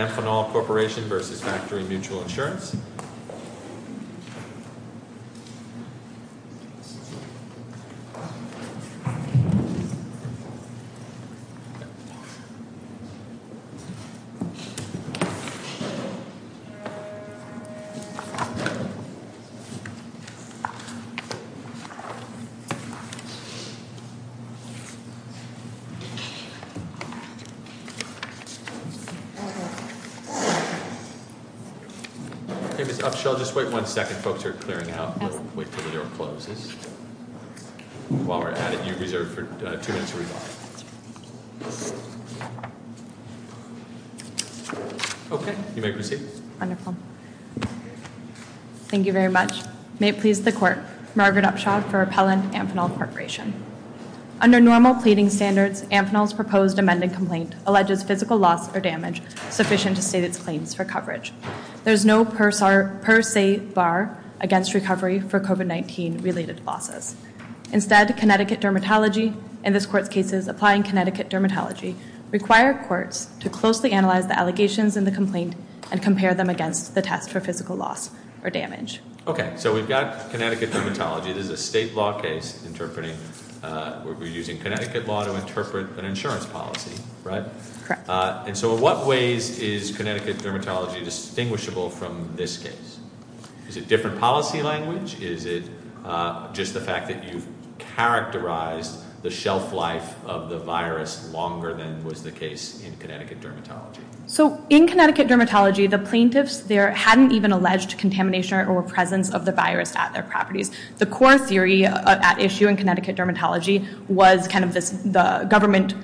Amphenol Corporation v. Factory Mutual Insurance Okay, Ms. Upshaw, just wait one second. Folks are clearing out. While we're at it, you're reserved for two minutes to respond. Okay, you may proceed. Thank you very much. May it please the Court. Margaret Upshaw for Appellant Amphenol Corporation. Under normal pleading standards, Amphenol's proposed amended complaint alleges physical loss or damage sufficient to state its claims for coverage. There is no per se bar against recovery for COVID-19 related losses. Instead, Connecticut Dermatology and this Court's cases applying Connecticut Dermatology require courts to closely analyze the allegations in the complaint and compare them against the test for physical loss or damage. Okay, so we've got Connecticut Dermatology. This is a state law case interpreting, we're using Connecticut law to interpret an insurance policy, right? Correct. And so in what ways is Connecticut Dermatology distinguishable from this case? Is it different policy language? Is it just the fact that you've characterized the shelf life of the virus longer than was the case in Connecticut Dermatology? So in Connecticut Dermatology, the plaintiffs there hadn't even alleged contamination or presence of the virus at their properties. The core theory at issue in Connecticut Dermatology was kind of the government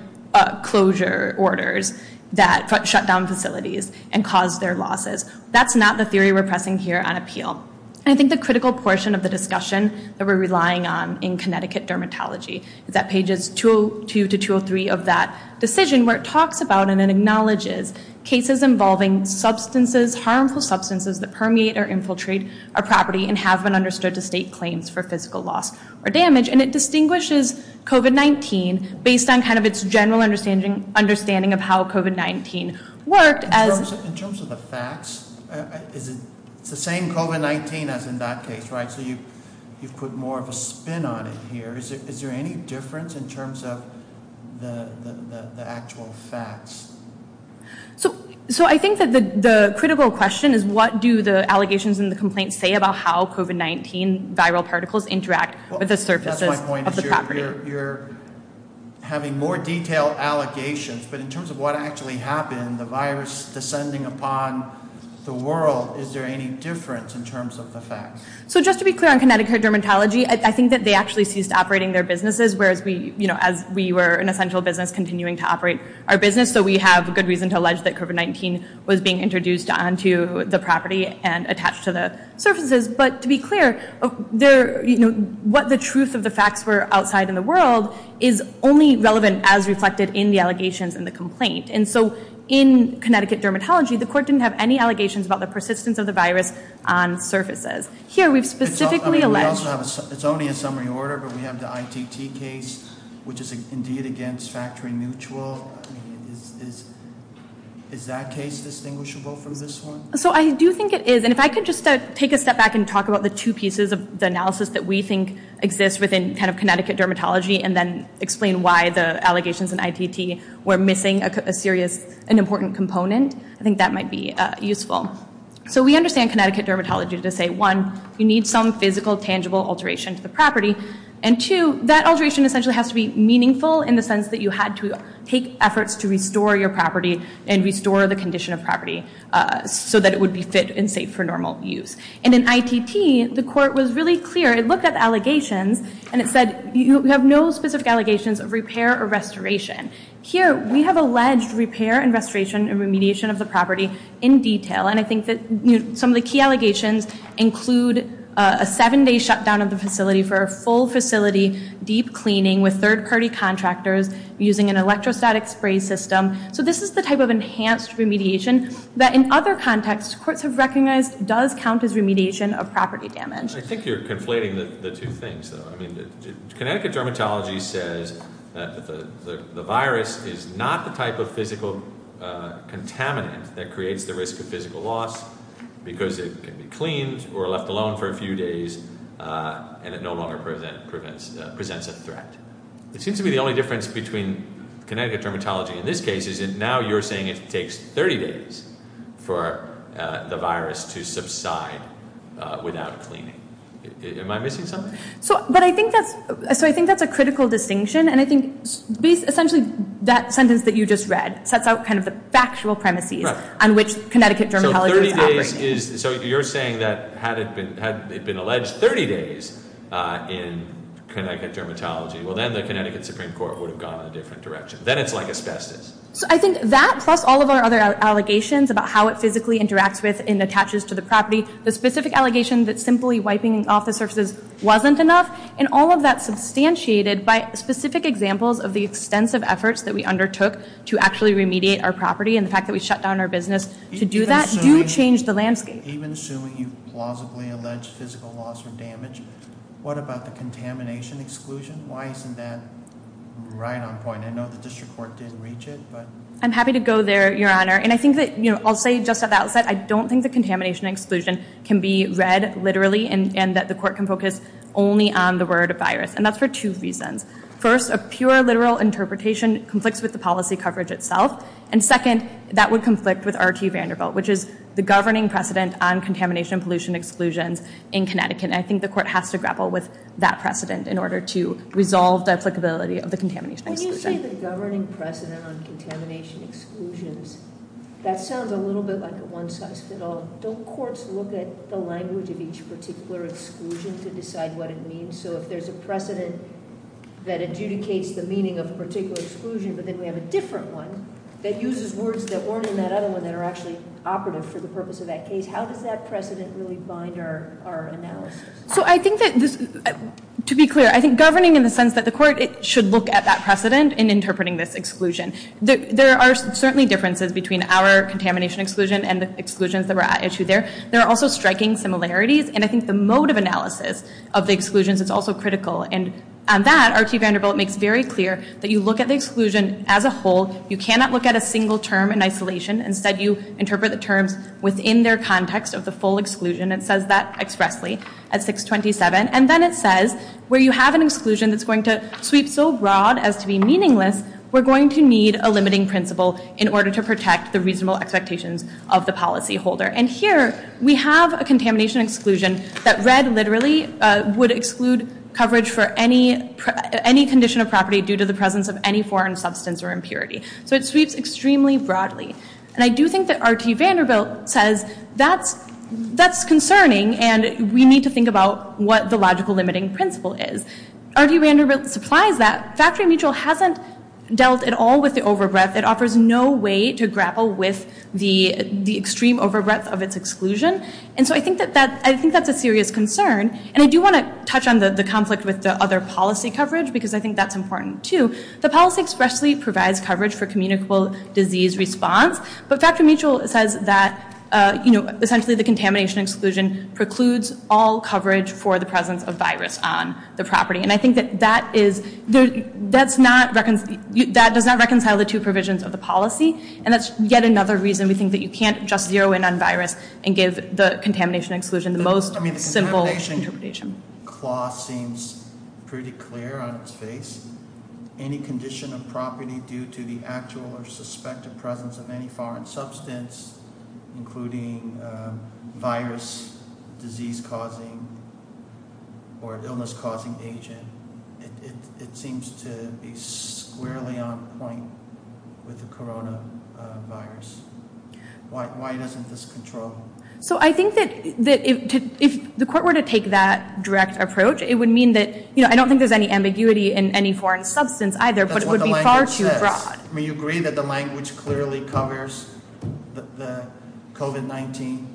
closure orders that shut down facilities and caused their losses. That's not the theory we're pressing here on appeal. And I think the critical portion of the discussion that we're relying on in Connecticut Dermatology is that pages 202 to 203 of that decision where it talks about and it acknowledges cases involving substances, harmful substances that permeate or infiltrate a property and have been understood to state claims for physical loss or damage. And it distinguishes COVID-19 based on kind of its general understanding of how COVID-19 worked. In terms of the facts, it's the same COVID-19 as in that case, right? So you've put more of a spin on it here. Is there any difference in terms of the actual facts? So I think that the critical question is what do the allegations and the complaints say about how COVID-19 viral particles interact with the surfaces of the property? You're having more detailed allegations, but in terms of what actually happened, the virus descending upon the world, is there any difference in terms of the facts? So just to be clear on Connecticut Dermatology, I think that they actually ceased operating their businesses, whereas we were an essential business continuing to operate our business. So we have a good reason to allege that COVID-19 was being introduced onto the property and attached to the surfaces. But to be clear, what the truth of the facts were outside in the world is only relevant as reflected in the allegations and the complaint. And so in Connecticut Dermatology, the court didn't have any allegations about the persistence of the virus on surfaces. Here, we've specifically alleged- It's only a summary order, but we have the ITT case, which is indeed against Factory Mutual. Is that case distinguishable from this one? So I do think it is, and if I could just take a step back and talk about the two pieces of the analysis that we think exists within Connecticut Dermatology, and then explain why the allegations in ITT were missing an important component, I think that might be useful. So we understand Connecticut Dermatology to say, one, you need some physical, tangible alteration to the property, and two, that alteration essentially has to be meaningful in the sense that you had to take efforts to restore your property and restore the condition of property so that it would be fit and safe for normal use. And in ITT, the court was really clear. It looked at the allegations, and it said, you have no specific allegations of repair or restoration. Here, we have alleged repair and restoration and remediation of the property in detail, and I think that some of the key allegations include a seven-day shutdown of the facility for a full facility, deep cleaning with third-party contractors, using an electrostatic spray system. So this is the type of enhanced remediation that in other contexts courts have recognized does count as remediation of property damage. I think you're conflating the two things, though. I mean, Connecticut Dermatology says that the virus is not the type of physical contaminant that creates the risk of physical loss because it can be cleaned or left alone for a few days, and it no longer presents a threat. It seems to be the only difference between Connecticut Dermatology in this case is that now you're saying it takes 30 days for the virus to subside without cleaning. Am I missing something? So I think that's a critical distinction, and I think essentially that sentence that you just read sets out kind of the factual premises on which Connecticut Dermatology is operating. So you're saying that had it been alleged 30 days in Connecticut Dermatology, well, then the Connecticut Supreme Court would have gone in a different direction. Then it's like asbestos. So I think that, plus all of our other allegations about how it physically interacts with and attaches to the property, the specific allegation that simply wiping off the surfaces wasn't enough, and all of that substantiated by specific examples of the extensive efforts that we undertook to actually remediate our property and the fact that we shut down our business to do that do change the landscape. Even assuming you plausibly allege physical loss or damage, what about the contamination exclusion? Why isn't that right on point? I know the district court didn't reach it. I'm happy to go there, Your Honor. And I think that I'll say just at the outset I don't think the contamination exclusion can be read literally and that the court can focus only on the word virus, and that's for two reasons. First, a pure literal interpretation conflicts with the policy coverage itself. And second, that would conflict with R.T. Vanderbilt, which is the governing precedent on contamination and pollution exclusions in Connecticut. And I think the court has to grapple with that precedent in order to resolve the applicability of the contamination exclusion. When you say the governing precedent on contamination exclusions, that sounds a little bit like a one-size-fits-all. Don't courts look at the language of each particular exclusion to decide what it means? So if there's a precedent that adjudicates the meaning of a particular exclusion, but then we have a different one that uses words that weren't in that other one that are actually operative for the purpose of that case, how does that precedent really bind our analysis? So I think that this, to be clear, I think governing in the sense that the court should look at that precedent in interpreting this exclusion. There are certainly differences between our contamination exclusion and the exclusions that were at issue there. There are also striking similarities, and I think the mode of analysis of the exclusions is also critical. And on that, R.T. Vanderbilt makes very clear that you look at the exclusion as a whole. You cannot look at a single term in isolation. Instead, you interpret the terms within their context of the full exclusion. It says that expressly at 627. And then it says where you have an exclusion that's going to sweep so broad as to be meaningless, we're going to need a limiting principle in order to protect the reasonable expectations of the policyholder. And here we have a contamination exclusion that read literally would exclude coverage for any condition of property due to the presence of any foreign substance or impurity. So it sweeps extremely broadly. And I do think that R.T. Vanderbilt says that's concerning, and we need to think about what the logical limiting principle is. R.T. Vanderbilt supplies that. Factory Mutual hasn't dealt at all with the overbreadth. It offers no way to grapple with the extreme overbreadth of its exclusion. And so I think that's a serious concern. And I do want to touch on the conflict with the other policy coverage because I think that's important too. The policy expressly provides coverage for communicable disease response, but Factory Mutual says that essentially the contamination exclusion precludes all coverage for the presence of virus on the property. And I think that does not reconcile the two provisions of the policy, and that's yet another reason we think that you can't just zero in on virus and give the contamination exclusion the most simple interpretation. The contamination clause seems pretty clear on its face. Any condition of property due to the actual or suspected presence of any foreign substance, including virus, disease-causing or illness-causing agent, it seems to be squarely on point with the coronavirus. Why doesn't this control? So I think that if the court were to take that direct approach, it would mean that, you know, I don't think there's any ambiguity in any foreign substance either, but it would be far too broad. I mean, you agree that the language clearly covers the COVID-19?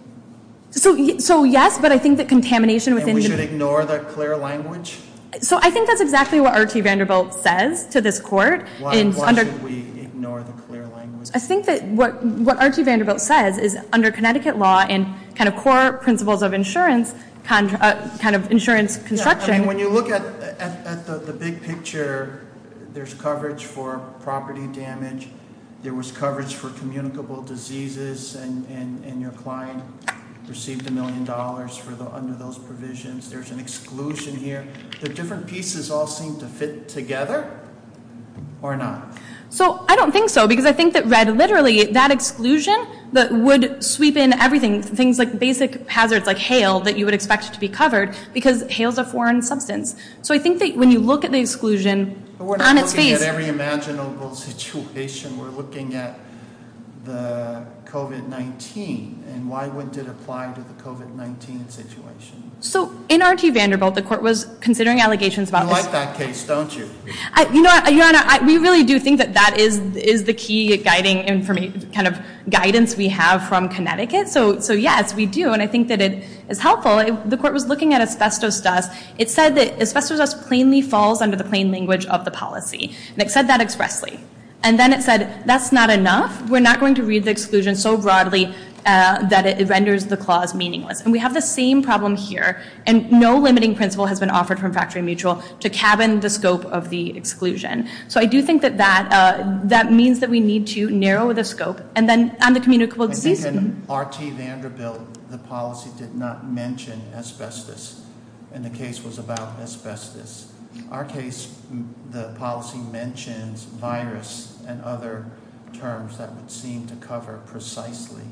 So yes, but I think that contamination within the- And we should ignore that clear language? So I think that's exactly what Archie Vanderbilt says to this court. Why should we ignore the clear language? I think that what Archie Vanderbilt says is under Connecticut law and kind of core principles of insurance, kind of insurance construction- There was coverage for communicable diseases and your client received a million dollars under those provisions. There's an exclusion here. The different pieces all seem to fit together or not. So I don't think so because I think that read literally that exclusion would sweep in everything, things like basic hazards like hail that you would expect to be covered because hail's a foreign substance. So I think that when you look at the exclusion on its face- We're looking at the COVID-19 and why wouldn't it apply to the COVID-19 situation? So in Archie Vanderbilt, the court was considering allegations about- You like that case, don't you? Your Honor, we really do think that that is the key guidance we have from Connecticut. So yes, we do. And I think that it is helpful. The court was looking at asbestos dust. It said that asbestos dust plainly falls under the plain language of the policy. And it said that expressly. And then it said that's not enough. We're not going to read the exclusion so broadly that it renders the clause meaningless. And we have the same problem here. And no limiting principle has been offered from Factory Mutual to cabin the scope of the exclusion. So I do think that that means that we need to narrow the scope. And then on the communicable disease- I think in R.T. Vanderbilt, the policy did not mention asbestos. And the case was about asbestos. Our case, the policy mentions virus and other terms that would seem to cover precisely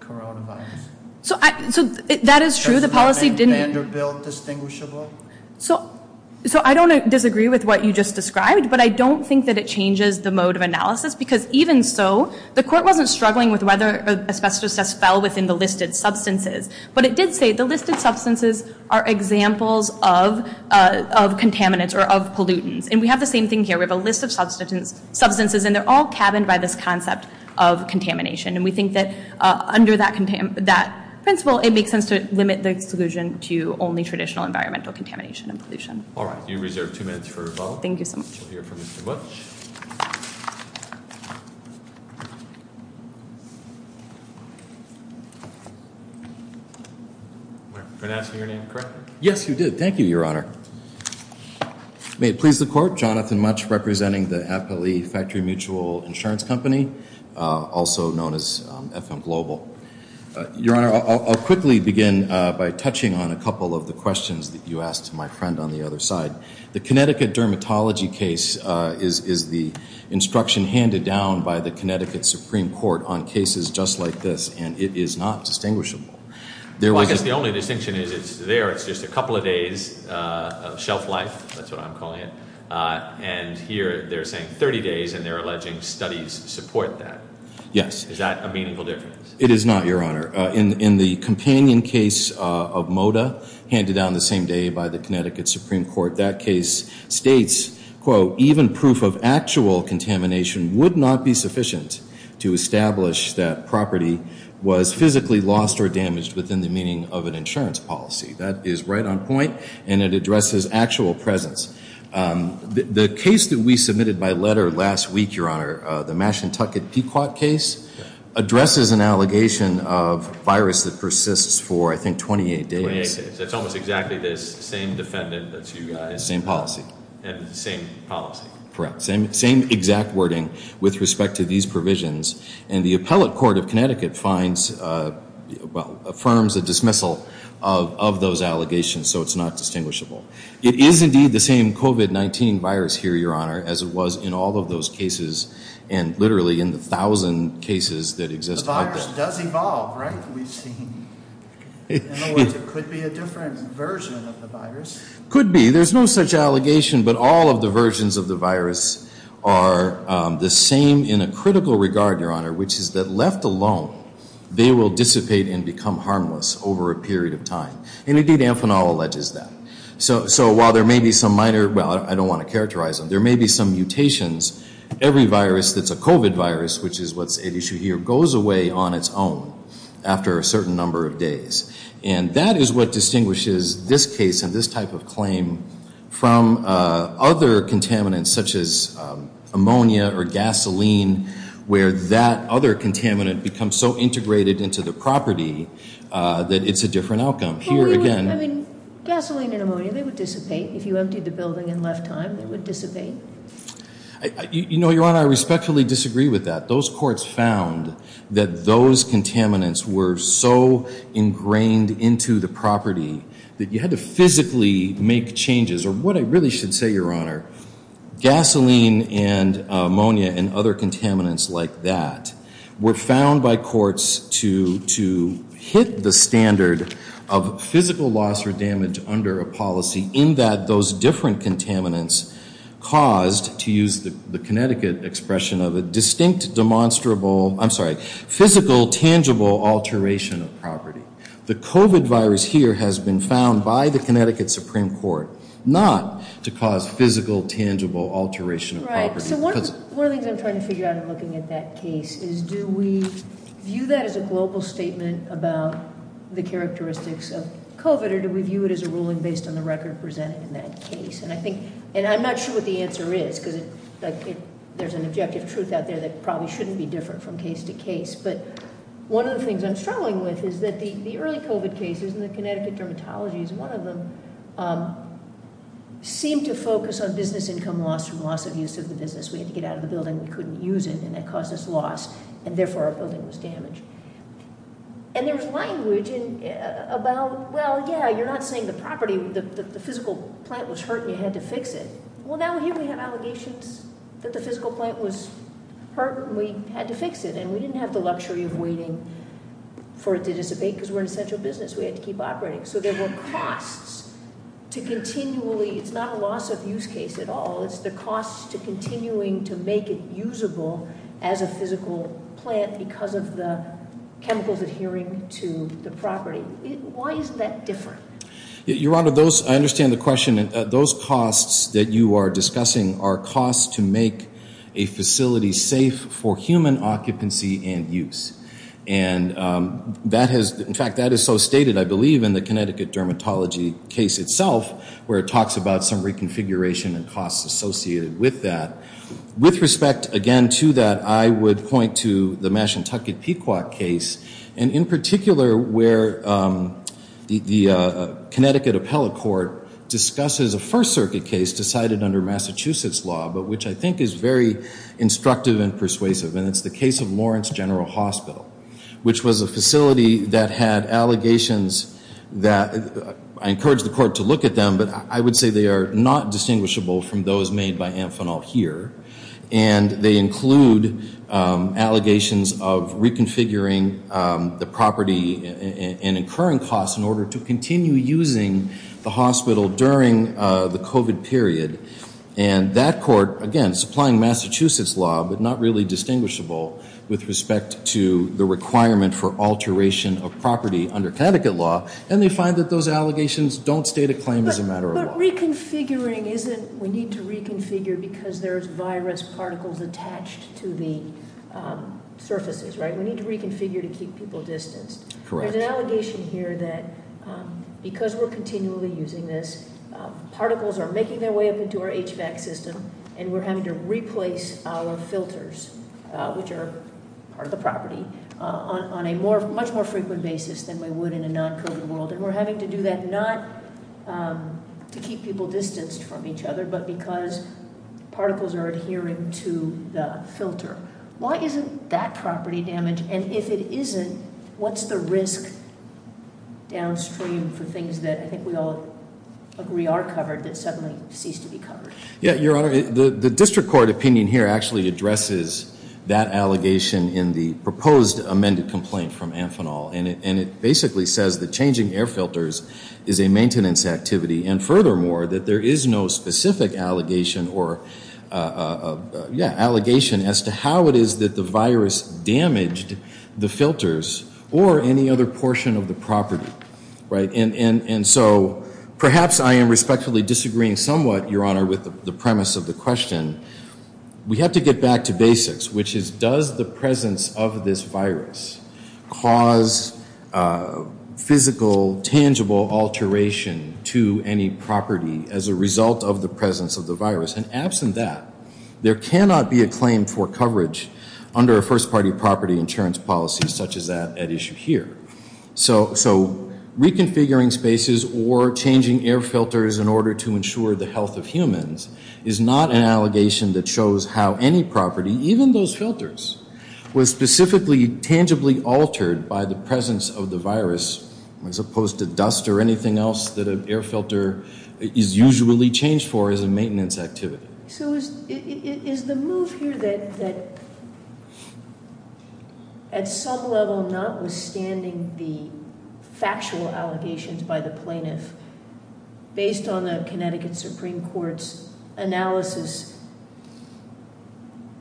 coronavirus. So that is true. The policy didn't- Vanderbilt distinguishable? So I don't disagree with what you just described. But I don't think that it changes the mode of analysis. Because even so, the court wasn't struggling with whether asbestos dust fell within the listed substances. But it did say the listed substances are examples of contaminants or of pollutants. And we have the same thing here. We have a list of substances, and they're all cabined by this concept of contamination. And we think that under that principle, it makes sense to limit the exclusion to only traditional environmental contamination and pollution. All right. You're reserved two minutes for rebuttal. Thank you so much. We'll hear from Mr. Butch. Am I pronouncing your name correctly? Yes, you did. Thank you, Your Honor. May it please the court. Jonathan Butch, representing the Appalachia Factory Mutual Insurance Company, also known as FM Global. Your Honor, I'll quickly begin by touching on a couple of the questions that you asked my friend on the other side. The Connecticut dermatology case is the instruction handed down by the Connecticut Supreme Court on cases just like this, and it is not distinguishable. Well, I guess the only distinction is it's there. It's just a couple of days of shelf life. That's what I'm calling it. And here they're saying 30 days, and they're alleging studies support that. Yes. Is that a meaningful difference? It is not, Your Honor. In the companion case of Moda, handed down the same day by the Connecticut Supreme Court, that case states, quote, even proof of actual contamination would not be sufficient to establish that property was physically lost or damaged within the meaning of an insurance policy. That is right on point, and it addresses actual presence. The case that we submitted by letter last week, Your Honor, the Mashantucket Pequot case, addresses an allegation of virus that persists for, I think, 28 days. That's almost exactly the same defendant that you got. Same policy. Same policy. Correct. Same exact wording with respect to these provisions, and the appellate court of Connecticut finds, well, affirms a dismissal of those allegations, so it's not distinguishable. It is, indeed, the same COVID-19 virus here, Your Honor, as it was in all of those cases, and literally in the thousand cases that exist. The virus does evolve, right, we've seen? In other words, it could be a different version of the virus. Could be. There's no such allegation, but all of the versions of the virus are the same in a critical regard, Your Honor, which is that, left alone, they will dissipate and become harmless over a period of time. And, indeed, Amphenol alleges that. So, while there may be some minor, well, I don't want to characterize them, there may be some mutations, every virus that's a COVID virus, which is what's at issue here, goes away on its own after a certain number of days. And that is what distinguishes this case and this type of claim from other contaminants, such as ammonia or gasoline, where that other contaminant becomes so integrated into the property that it's a different outcome. Well, we would, I mean, gasoline and ammonia, they would dissipate. If you emptied the building and left time, they would dissipate. You know, Your Honor, I respectfully disagree with that. Those courts found that those contaminants were so ingrained into the property that you had to physically make changes. Or what I really should say, Your Honor, gasoline and ammonia and other contaminants like that were found by courts to hit the standard of physical loss or damage under a policy in that those different contaminants caused, to use the Connecticut expression of it, distinct, demonstrable, I'm sorry, physical, tangible alteration of property. The COVID virus here has been found by the Connecticut Supreme Court not to cause physical, tangible alteration of property. So one of the things I'm trying to figure out in looking at that case is, do we view that as a global statement about the characteristics of COVID, or do we view it as a ruling based on the record presented in that case? And I'm not sure what the answer is because there's an objective truth out there that probably shouldn't be different from case to case. But one of the things I'm struggling with is that the early COVID cases and the Connecticut dermatologies, one of them, seemed to focus on business income loss from loss of use of the business. We had to get out of the building, we couldn't use it, and that caused us loss, and therefore our building was damaged. And there was language about, well, yeah, you're not saying the property, the physical plant was hurt and you had to fix it. Well, now here we have allegations that the physical plant was hurt and we had to fix it, and we didn't have the luxury of waiting for it to dissipate because we're an essential business. We had to keep operating. So there were costs to continually, it's not a loss of use case at all, it's the costs to continuing to make it usable as a physical plant because of the chemicals adhering to the property. Why is that different? Your Honor, I understand the question. Those costs that you are discussing are costs to make a facility safe for human occupancy and use. In fact, that is so stated, I believe, in the Connecticut Dermatology case itself where it talks about some reconfiguration and costs associated with that. With respect, again, to that, I would point to the Mashantucket Pequot case, and in particular where the Connecticut Appellate Court discusses a First Circuit case decided under Massachusetts law, but which I think is very instructive and persuasive, and it's the case of Lawrence General Hospital, which was a facility that had allegations that, I encourage the Court to look at them, but I would say they are not distinguishable from those made by Amphenol here, and they include allegations of reconfiguring the property and incurring costs in order to continue using the hospital during the COVID period. And that court, again, supplying Massachusetts law but not really distinguishable with respect to the requirement for alteration of property under Connecticut law, and they find that those allegations don't state a claim as a matter of law. But reconfiguring isn't, we need to reconfigure because there's virus particles attached to the surfaces, right? We need to reconfigure to keep people distanced. Correct. There's an allegation here that because we're continually using this, particles are making their way up into our HVAC system, and we're having to replace our filters, which are part of the property, on a much more frequent basis than we would in a non-COVID world, and we're having to do that not to keep people distanced from each other, but because particles are adhering to the filter. Why isn't that property damaged? And if it isn't, what's the risk downstream for things that I think we all agree are covered that suddenly cease to be covered? Yeah, Your Honor, the district court opinion here actually addresses that allegation in the proposed amended complaint from Amphenol, and it basically says that changing air filters is a maintenance activity, and furthermore, that there is no specific allegation or, yeah, allegation as to how it is that the virus damaged the filters or any other portion of the property, right? And so perhaps I am respectfully disagreeing somewhat, Your Honor, with the premise of the question. We have to get back to basics, which is, does the presence of this virus cause physical, tangible alteration to any property as a result of the presence of the virus? And absent that, there cannot be a claim for coverage under a first-party property insurance policy such as that at issue here. So reconfiguring spaces or changing air filters in order to ensure the health of humans is not an allegation that shows how any property, even those filters, was specifically tangibly altered by the presence of the virus as opposed to dust or anything else that an air filter is usually changed for as a maintenance activity. So is the move here that, at some level, notwithstanding the factual allegations by the plaintiff, based on the Connecticut Supreme Court's analysis,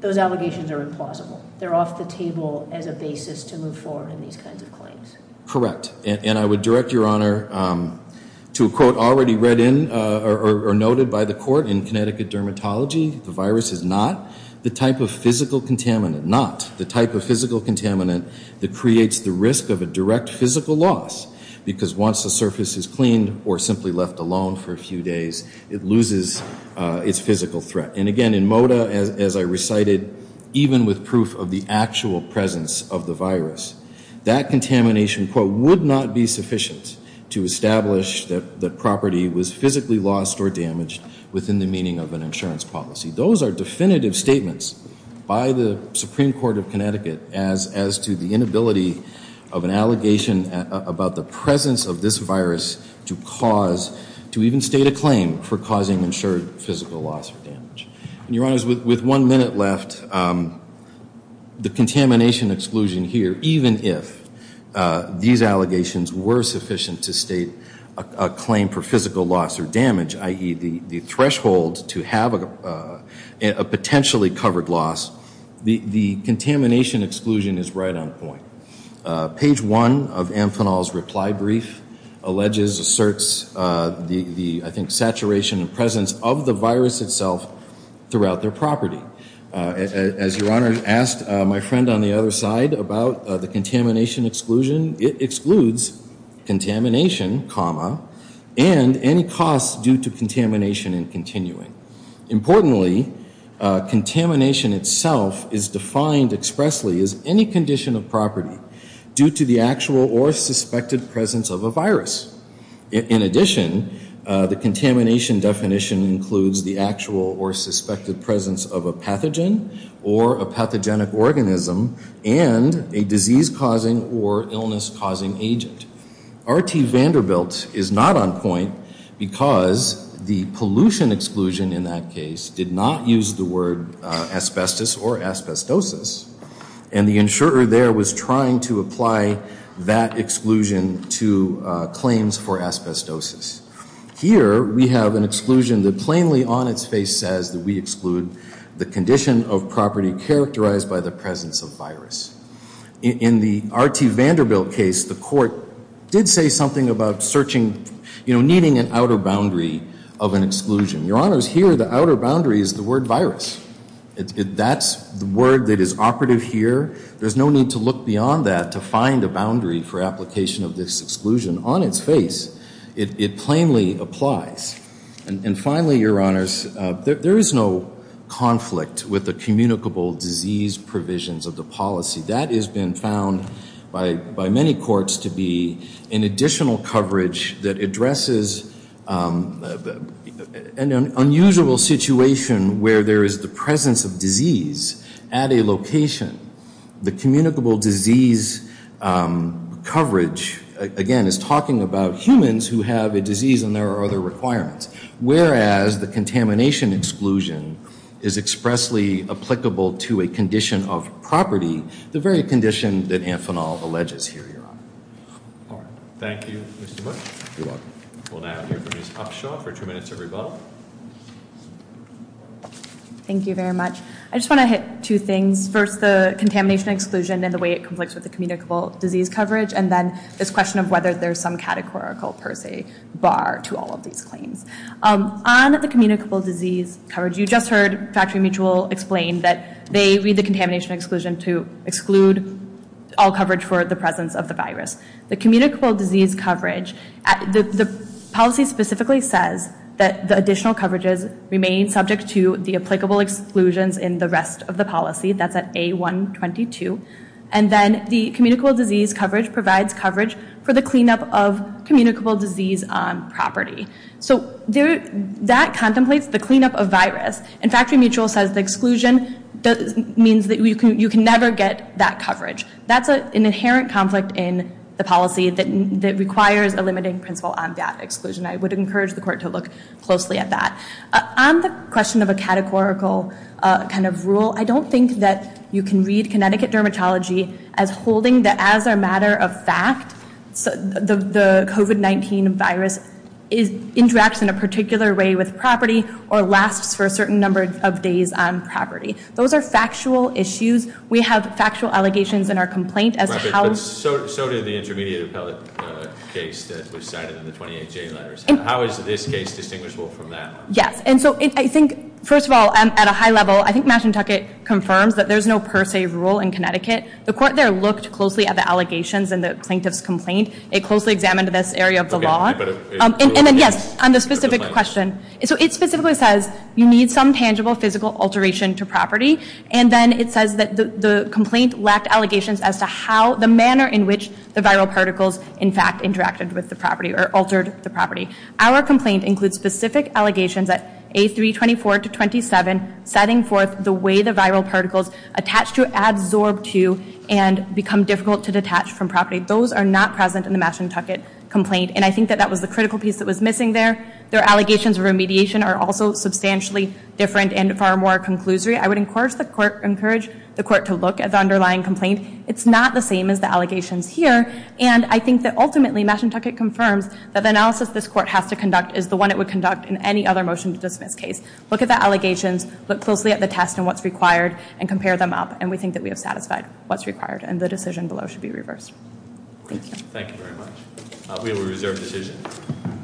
those allegations are implausible. They're off the table as a basis to move forward in these kinds of claims. Correct. And I would direct Your Honor to a quote already read in or noted by the court in Connecticut dermatology. The virus is not the type of physical contaminant, not the type of physical contaminant that creates the risk of a direct physical loss because once the surface is cleaned or simply left alone for a few days, it loses its physical threat. And again, in moda, as I recited, even with proof of the actual presence of the virus, that contamination, quote, would not be sufficient to establish that the property was physically lost or damaged within the meaning of an insurance policy. Those are definitive statements by the Supreme Court of Connecticut as to the inability of an allegation about the presence of this virus to cause, to even state a claim for causing insured physical loss or damage. And Your Honors, with one minute left, the contamination exclusion here, even if these allegations were sufficient to state a claim for physical loss or damage, i.e. the threshold to have a potentially covered loss, the contamination exclusion is right on point. Page one of Amphenol's reply brief alleges, asserts the, I think, saturation and presence of the virus itself throughout their property. As Your Honor asked my friend on the other side about the contamination exclusion, it excludes contamination, comma, and any costs due to contamination and continuing. Importantly, contamination itself is defined expressly as any condition of property due to the actual or suspected presence of a virus. In addition, the contamination definition includes the actual or suspected presence of a pathogen or a pathogenic organism and a disease-causing or illness-causing agent. R.T. Vanderbilt is not on point because the pollution exclusion in that case did not use the word asbestos or asbestosis, and the insurer there was trying to apply that exclusion to claims for asbestosis. Here we have an exclusion that plainly on its face says that we exclude the condition of property characterized by the presence of virus. In the R.T. Vanderbilt case, the court did say something about searching, you know, needing an outer boundary of an exclusion. Your Honors, here the outer boundary is the word virus. That's the word that is operative here. There's no need to look beyond that to find a boundary for application of this exclusion on its face. It plainly applies. And finally, Your Honors, there is no conflict with the communicable disease provisions of the policy. That has been found by many courts to be an additional coverage that addresses an unusual situation where there is the presence of disease at a location. The communicable disease coverage, again, is talking about humans who have a disease and there are other requirements. Whereas the contamination exclusion is expressly applicable to a condition of property, the very condition that Amphenol alleges here, Your Honor. All right. Thank you, Mr. Bush. You're welcome. We'll now hear from Ms. Upshaw for two minutes of rebuttal. Thank you very much. I just want to hit two things. First, the contamination exclusion and the way it conflicts with the communicable disease coverage, and then this question of whether there's some categorical per se bar to all of these claims. On the communicable disease coverage, you just heard Factory Mutual explain that they read the contamination exclusion to exclude all coverage for the presence of the virus. The communicable disease coverage, the policy specifically says that the additional coverages remain subject to the applicable exclusions in the rest of the policy. That's at A122. And then the communicable disease coverage provides coverage for the cleanup of communicable disease on property. So that contemplates the cleanup of virus. And Factory Mutual says the exclusion means that you can never get that coverage. That's an inherent conflict in the policy that requires a limiting principle on that exclusion. I would encourage the court to look closely at that. On the question of a categorical kind of rule, I don't think that you can read Connecticut Dermatology as holding that as a matter of fact, the COVID-19 virus interacts in a particular way with property or lasts for a certain number of days on property. Those are factual issues. We have factual allegations in our complaint as to how— But so did the intermediate appellate case that was cited in the 28J letters. How is this case distinguishable from that? Yes, and so I think, first of all, at a high level, I think Mashantucket confirms that there's no per se rule in Connecticut. The court there looked closely at the allegations in the plaintiff's complaint. It closely examined this area of the law. And then, yes, on the specific question, so it specifically says you need some tangible physical alteration to property. And then it says that the complaint lacked allegations as to how— the manner in which the viral particles, in fact, interacted with the property or altered the property. Our complaint includes specific allegations at A324-27 setting forth the way the viral particles attach to, absorb to, and become difficult to detach from property. Those are not present in the Mashantucket complaint. And I think that that was the critical piece that was missing there. Their allegations of remediation are also substantially different and far more conclusory. I would encourage the court to look at the underlying complaint. It's not the same as the allegations here. And I think that ultimately Mashantucket confirms that the analysis this court has to conduct is the one it would conduct in any other motion-to-dismiss case. Look at the allegations, look closely at the test and what's required, and compare them up. And we think that we have satisfied what's required, and the decision below should be reversed. Thank you. Thank you very much. We will reserve decision.